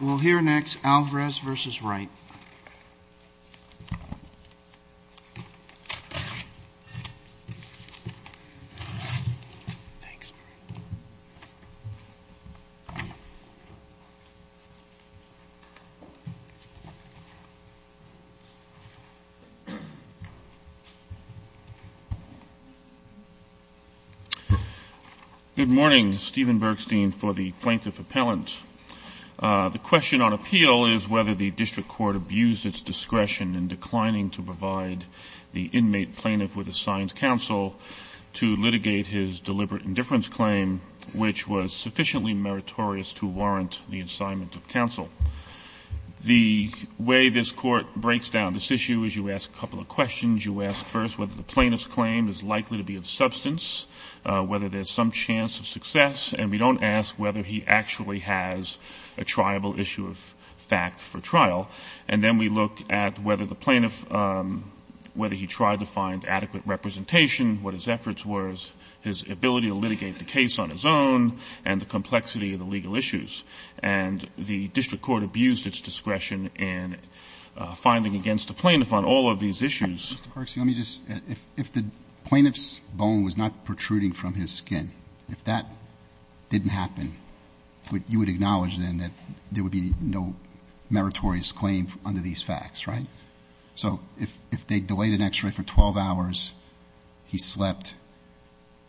We'll hear next Alvarez v. Wright. Thanks. Good morning. Stephen Bergstein for the Plaintiff Appellant. The question on appeal is whether the district court abused its discretion in declining to provide the inmate plaintiff with assigned counsel to litigate his deliberate indifference claim, which was sufficiently meritorious to warrant the assignment of counsel. The way this Court breaks down this issue is you ask a couple of questions. You ask first whether the plaintiff's claim is likely to be of substance, whether there's some chance of success, and we don't ask whether he actually has a triable issue of fact for trial. And then we look at whether the plaintiff, whether he tried to find adequate representation, what his efforts were, his ability to litigate the case on his own, and the complexity of the legal issues. And the district court abused its discretion in finding against the plaintiff on all of these issues. Mr. Bergstein, let me just, if the plaintiff's bone was not protruding from his skin, if that didn't happen, you would acknowledge then that there would be no meritorious claim under these facts, right? So if they delayed an X-ray for 12 hours, he slept,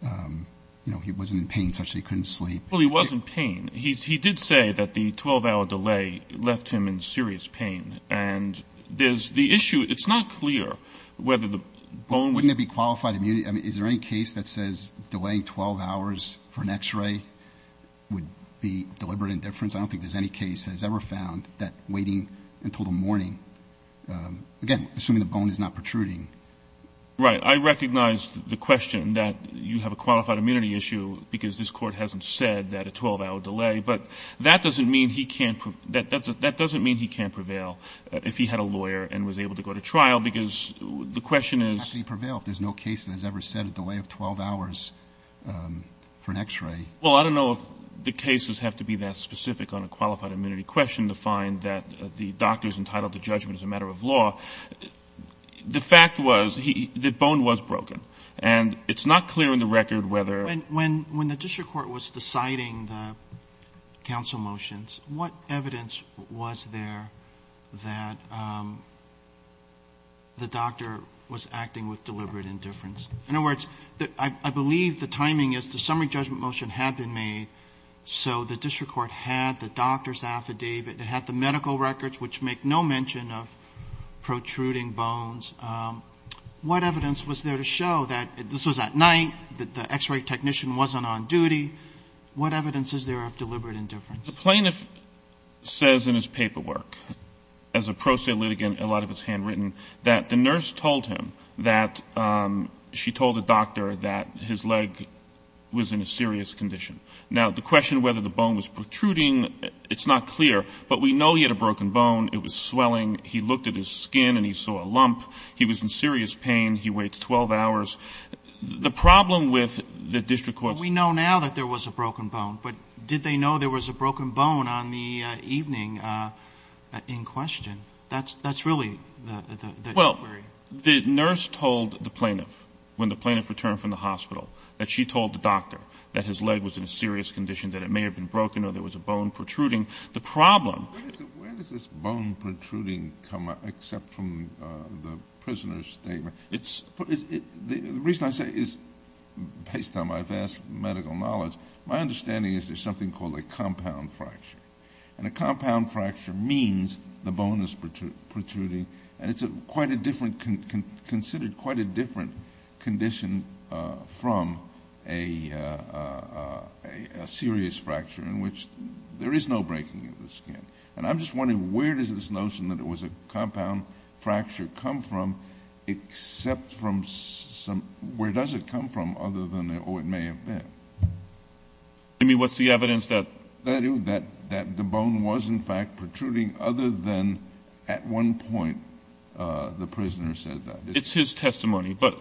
you know, he wasn't in pain such that he couldn't sleep. Well, he was in pain. He did say that the 12-hour delay left him in serious pain. And there's the issue. It's not clear whether the bone was. Wouldn't it be qualified immunity? I mean, is there any case that says delaying 12 hours for an X-ray would be deliberate indifference? I don't think there's any case that has ever found that waiting until the morning, again, assuming the bone is not protruding. Right. I recognize the question that you have a qualified immunity issue because this court hasn't said that a 12-hour delay. But that doesn't mean he can't prevail if he had a lawyer and was able to go to trial because the question is. It would actually prevail if there's no case that has ever said a delay of 12 hours for an X-ray. Well, I don't know if the cases have to be that specific on a qualified immunity question to find that the doctor's entitled to judgment as a matter of law. The fact was that the bone was broken. And it's not clear in the record whether. When the district court was deciding the counsel motions, what evidence was there that the doctor was acting with deliberate indifference? In other words, I believe the timing is the summary judgment motion had been made so the district court had the doctor's affidavit. It had the medical records, which make no mention of protruding bones. What evidence was there to show that this was at night, that the X-ray technician wasn't on duty? What evidence is there of deliberate indifference? The plaintiff says in his paperwork, as a pro se litigant, a lot of it's handwritten, that the nurse told him that she told the doctor that his leg was in a serious condition. Now, the question whether the bone was protruding, it's not clear. But we know he had a broken bone. It was swelling. He looked at his skin and he saw a lump. He was in serious pain. He waits 12 hours. The problem with the district court's ---- We know now that there was a broken bone. But did they know there was a broken bone on the evening in question? That's really the query. Well, the nurse told the plaintiff, when the plaintiff returned from the hospital, that she told the doctor that his leg was in a serious condition, that it may have been broken or there was a bone protruding. The problem ---- Where does this bone protruding come up, except from the prisoner's statement? It's ---- The reason I say is, based on my vast medical knowledge, my understanding is there's something called a compound fracture. And a compound fracture means the bone is protruding. And it's quite a different, considered quite a different condition from a serious fracture in which there is no breaking of the skin. And I'm just wondering, where does this notion that it was a compound fracture come from, except from some ---- Where does it come from other than, oh, it may have been? I mean, what's the evidence that ---- That the bone was in fact protruding other than at one point the prisoner said that. It's his testimony. But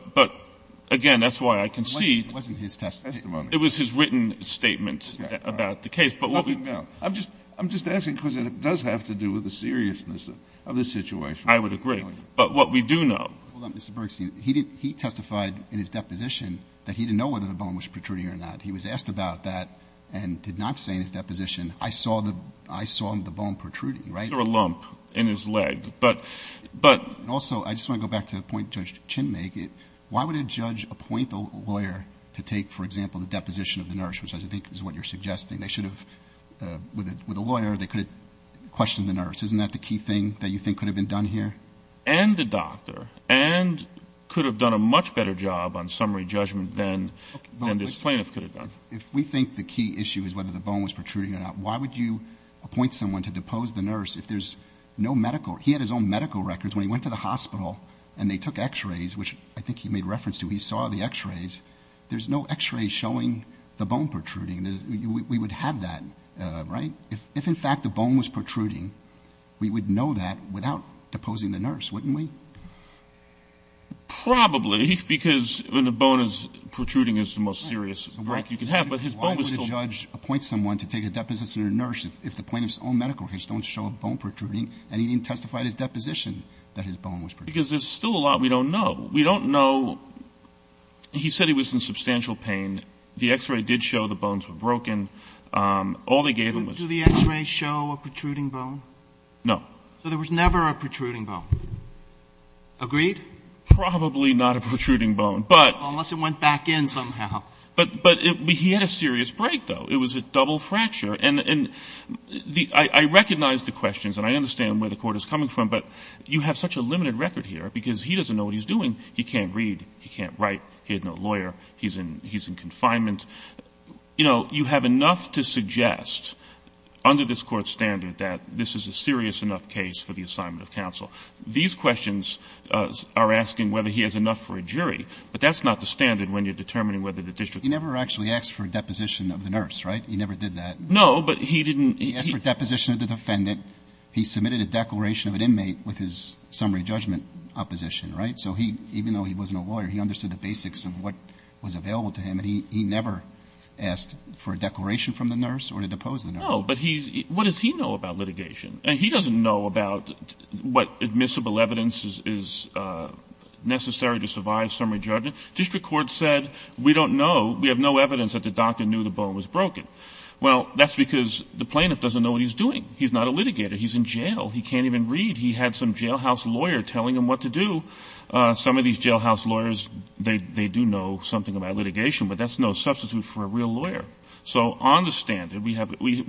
again, that's why I concede ---- It wasn't his testimony. It was his written statement about the case. But what we ---- Nothing now. I'm just asking because it does have to do with the seriousness of the situation. I would agree. But what we do know ---- Hold on, Mr. Bergstein. He didn't ---- he testified in his deposition that he didn't know whether the bone was protruding or not. He was asked about that and did not say in his deposition, I saw the bone protruding. Is there a lump in his leg? But ---- Also, I just want to go back to the point Judge Chin make. Why would a judge appoint a lawyer to take, for example, the deposition of the nurse, which I think is what you're suggesting? They should have, with a lawyer, they could have questioned the nurse. Isn't that the key thing that you think could have been done here? And the doctor. And could have done a much better job on summary judgment than this plaintiff could have done. If we think the key issue is whether the bone was protruding or not, why would you appoint someone to depose the nurse if there's no medical? He had his own medical records. When he went to the hospital and they took x-rays, which I think he made reference to, he saw the x-rays. There's no x-ray showing the bone protruding. We would have that, right? If, in fact, the bone was protruding, we would know that without deposing the nurse, wouldn't we? Probably, because when the bone is protruding, it's the most serious break you can have. But his bone was still. Why would a judge appoint someone to take a deposition of a nurse if the plaintiff's own medical records don't show a bone protruding and he didn't testify at his deposition that his bone was protruding? Because there's still a lot we don't know. We don't know. He said he was in substantial pain. The x-ray did show the bones were broken. All they gave him was. Do the x-rays show a protruding bone? No. So there was never a protruding bone? Agreed? Probably not a protruding bone, but. Unless it went back in somehow. But he had a serious break, though. It was a double fracture. And I recognize the questions, and I understand where the Court is coming from, but you have such a limited record here because he doesn't know what he's doing. He can't read. He can't write. He had no lawyer. He's in confinement. You know, you have enough to suggest under this Court's standard that this is a serious enough case for the assignment of counsel. These questions are asking whether he has enough for a jury, but that's not the standard when you're determining whether the district. He never actually asked for a deposition of the nurse, right? He never did that. No, but he didn't. He asked for a deposition of the defendant. He submitted a declaration of an inmate with his summary judgment opposition, right? So even though he wasn't a lawyer, he understood the basics of what was available to him, and he never asked for a declaration from the nurse or to depose the nurse. No, but what does he know about litigation? And he doesn't know about what admissible evidence is necessary to survive summary judgment. District court said we don't know. We have no evidence that the doctor knew the bone was broken. Well, that's because the plaintiff doesn't know what he's doing. He's not a litigator. He's in jail. He can't even read. He had some jailhouse lawyer telling him what to do. Some of these jailhouse lawyers, they do know something about litigation, but that's no substitute for a real lawyer. So on the standard, we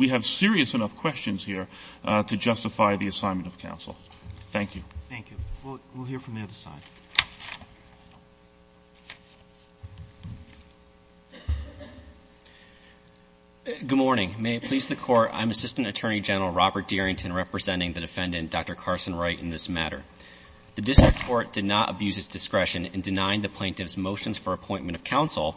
have serious enough questions here to justify the assignment of counsel. Thank you. Roberts. Thank you. We'll hear from the other side. Dearington. Good morning. May it please the Court, I'm Assistant Attorney General Robert Dearington representing the defendant, Dr. Carson Wright, in this matter. The district court did not abuse its discretion in denying the plaintiff's motions for appointment of counsel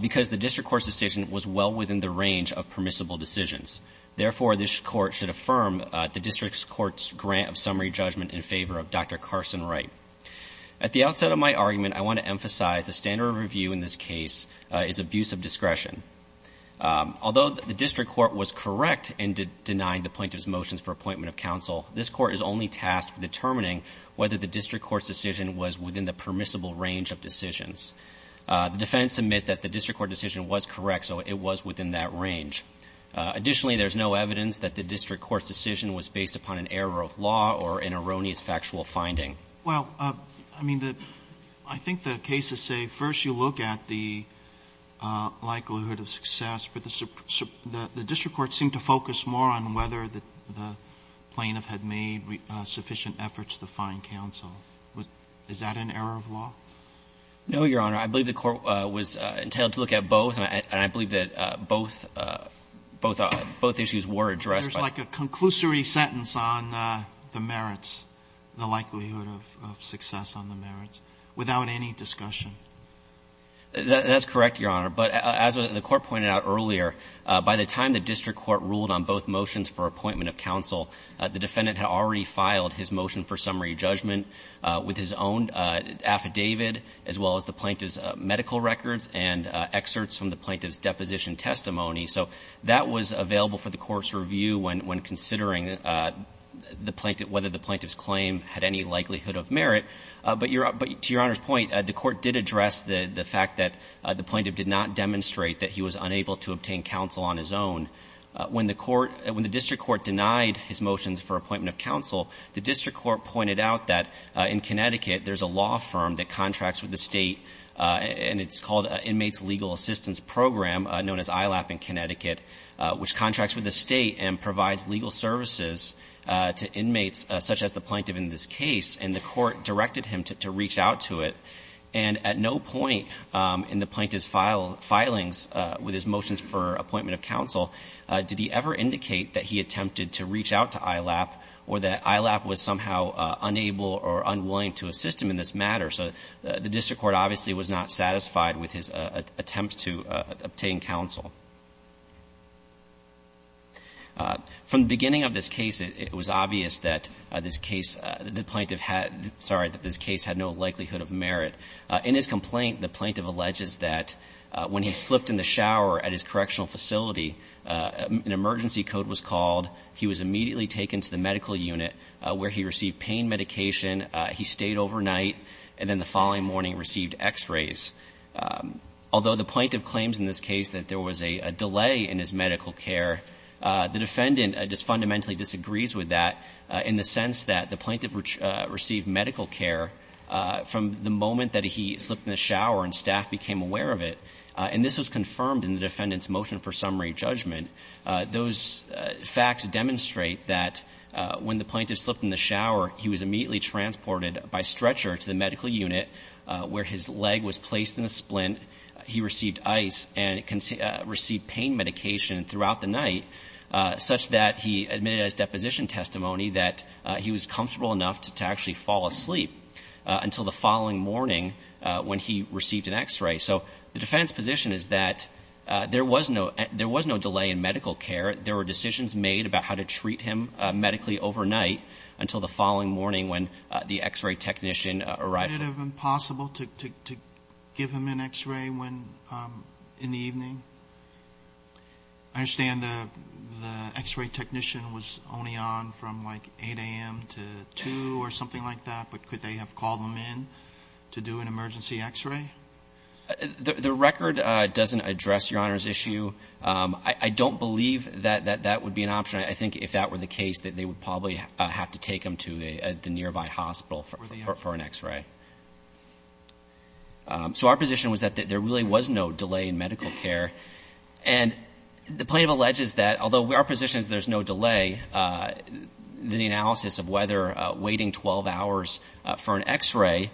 because the district court's decision was well within the range of permissible decisions. Therefore, this court should affirm the district court's grant of summary judgment in favor of Dr. Carson Wright. At the outset of my argument, I want to emphasize the standard of review in this case is abuse of discretion. Although the district court was correct in denying the plaintiff's motions for appointment of counsel, this court is only tasked with determining whether the district court's decision was within the permissible range of decisions. The defendants admit that the district court decision was correct, so it was within that range. Additionally, there's no evidence that the district court's decision was based upon an error of law or an erroneous factual finding. Roberts. Well, I mean, I think the cases say first you look at the likelihood of success, but the district court seemed to focus more on whether the plaintiff had made sufficient efforts to find counsel. Is that an error of law? No, Your Honor. I believe the court was entitled to look at both, and I believe that both issues were addressed. But there's like a conclusory sentence on the merits, the likelihood of success on the merits, without any discussion. That's correct, Your Honor. But as the court pointed out earlier, by the time the district court ruled on both motions for appointment of counsel, the defendant had already filed his motion for appointment of counsel with his own affidavit, as well as the plaintiff's medical records and excerpts from the plaintiff's deposition testimony. So that was available for the court's review when considering the plaintiff, whether the plaintiff's claim had any likelihood of merit. But to Your Honor's point, the court did address the fact that the plaintiff did not demonstrate that he was unable to obtain counsel on his own. When the court – when the district court denied his motions for appointment of counsel, the district court pointed out that in Connecticut there's a law firm that contracts with the State, and it's called Inmates Legal Assistance Program, known as ILAP in Connecticut, which contracts with the State and provides legal services to inmates such as the plaintiff in this case. And the court directed him to reach out to it. And at no point in the plaintiff's filings with his motions for appointment of counsel did he ever indicate that he attempted to reach out to ILAP or that ILAP was somehow unable or unwilling to assist him in this matter. So the district court obviously was not satisfied with his attempt to obtain counsel. From the beginning of this case, it was obvious that this case – the plaintiff had – sorry, that this case had no likelihood of merit. In his complaint, the plaintiff alleges that when he slipped in the shower at his correctional facility, an emergency code was called. He was immediately taken to the medical unit where he received pain medication. He stayed overnight, and then the following morning received x-rays. Although the plaintiff claims in this case that there was a delay in his medical care, the defendant just fundamentally disagrees with that in the sense that the plaintiff received medical care from the moment that he slipped in the shower and staff became aware of it. And this was confirmed in the defendant's motion for summary judgment. Those facts demonstrate that when the plaintiff slipped in the shower, he was immediately transported by stretcher to the medical unit where his leg was placed in a splint. He received ice and received pain medication throughout the night such that he admitted as deposition testimony that he was comfortable enough to actually fall asleep until the following morning when he received an x-ray. So the defendant's position is that there was no delay in medical care. There were decisions made about how to treat him medically overnight until the following morning when the x-ray technician arrived. Would it have been possible to give him an x-ray in the evening? I understand the x-ray technician was only on from like 8 a.m. to 2 or something like that, but could they have called him in to do an emergency x-ray? The record doesn't address Your Honor's issue. I don't believe that that would be an option. I think if that were the case that they would probably have to take him to the nearby hospital for an x-ray. So our position was that there really was no delay in medical care. And the plaintiff alleges that although our position is there's no delay, the analysis of whether waiting 12 hours for an x-ray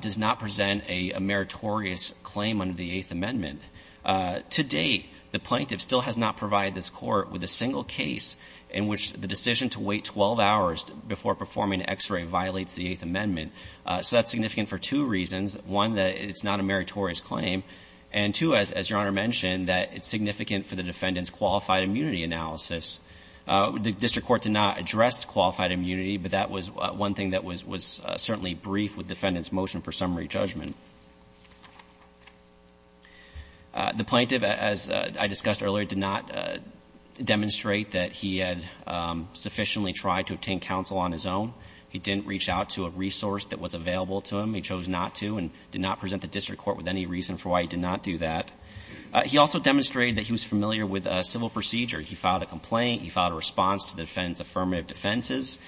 does not present a meritorious claim under the Eighth Amendment. To date, the plaintiff still has not provided this court with a single case in which the decision to wait 12 hours before performing an x-ray violates the Eighth Amendment. So that's significant for two reasons. One, that it's not a meritorious claim. And two, as Your Honor mentioned, that it's significant for the defendant's qualified immunity analysis. The district court did not address qualified immunity, but that was one thing that was certainly brief with the defendant's motion for summary judgment. The plaintiff, as I discussed earlier, did not demonstrate that he had sufficiently tried to obtain counsel on his own. He didn't reach out to a resource that was available to him. He chose not to and did not present the district court with any reason for why he did not do that. He also demonstrated that he was familiar with a civil procedure. He filed a complaint. He filed a response to the defendant's affirmative defenses.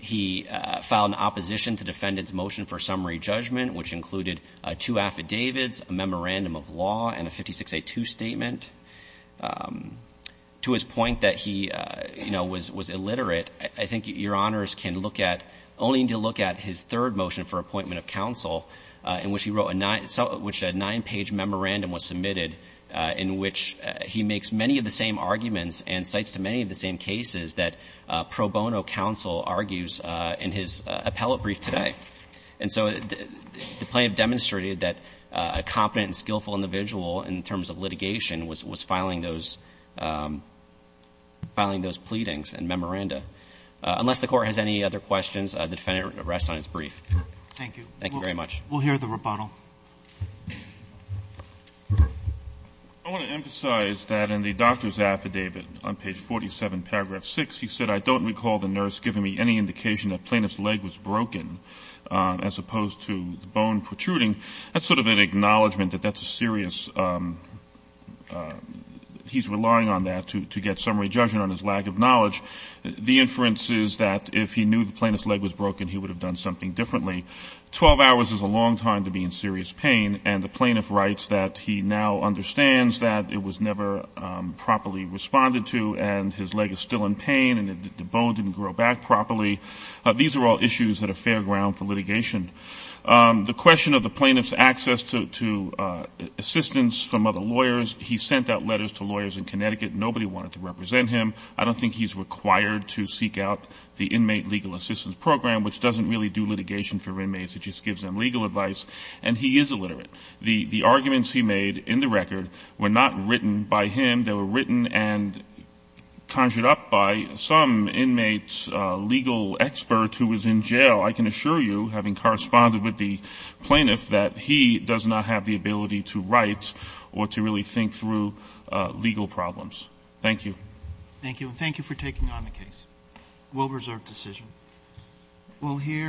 He filed an opposition to the defendant's motion for summary judgment, which included two affidavits, a memorandum of law, and a 56A2 statement. To his point that he, you know, was illiterate, I think Your Honors can look at, only need to look at his third motion for appointment of counsel, in which he wrote a nine page memorandum was submitted in which he makes many of the same arguments and cites to many of the same cases that pro bono counsel argues in his appellate brief today. And so the plaintiff demonstrated that a competent and skillful individual in terms of litigation was filing those pleadings and memoranda. Unless the Court has any other questions, the defendant rests on his brief. Thank you. Thank you very much. We'll hear the rebuttal. I want to emphasize that in the doctor's affidavit on page 47, paragraph 6, he said, I don't recall the nurse giving me any indication that the plaintiff's leg was broken as opposed to the bone protruding. That's sort of an acknowledgment that that's a serious, he's relying on that to get summary judgment on his lack of knowledge. The inference is that if he knew the plaintiff's leg was broken, he would have done something differently. Twelve hours is a long time to be in serious pain, and the plaintiff writes that he now understands that it was never properly responded to and his leg is still in pain and the bone didn't grow back properly. These are all issues that are fair ground for litigation. The question of the plaintiff's access to assistance from other lawyers, he sent out letters to lawyers in Connecticut. Nobody wanted to represent him. I don't think he's required to seek out the inmate legal assistance program, which doesn't really do litigation for inmates. It just gives them legal advice. And he is illiterate. The arguments he made in the record were not written by him. They were written and conjured up by some inmate's legal expert who was in jail. I can assure you, having corresponded with the plaintiff, that he does not have the ability to write or to really think through legal problems. Thank you. Roberts. Thank you. And thank you for taking on the case. We'll reserve decision. We'll hear.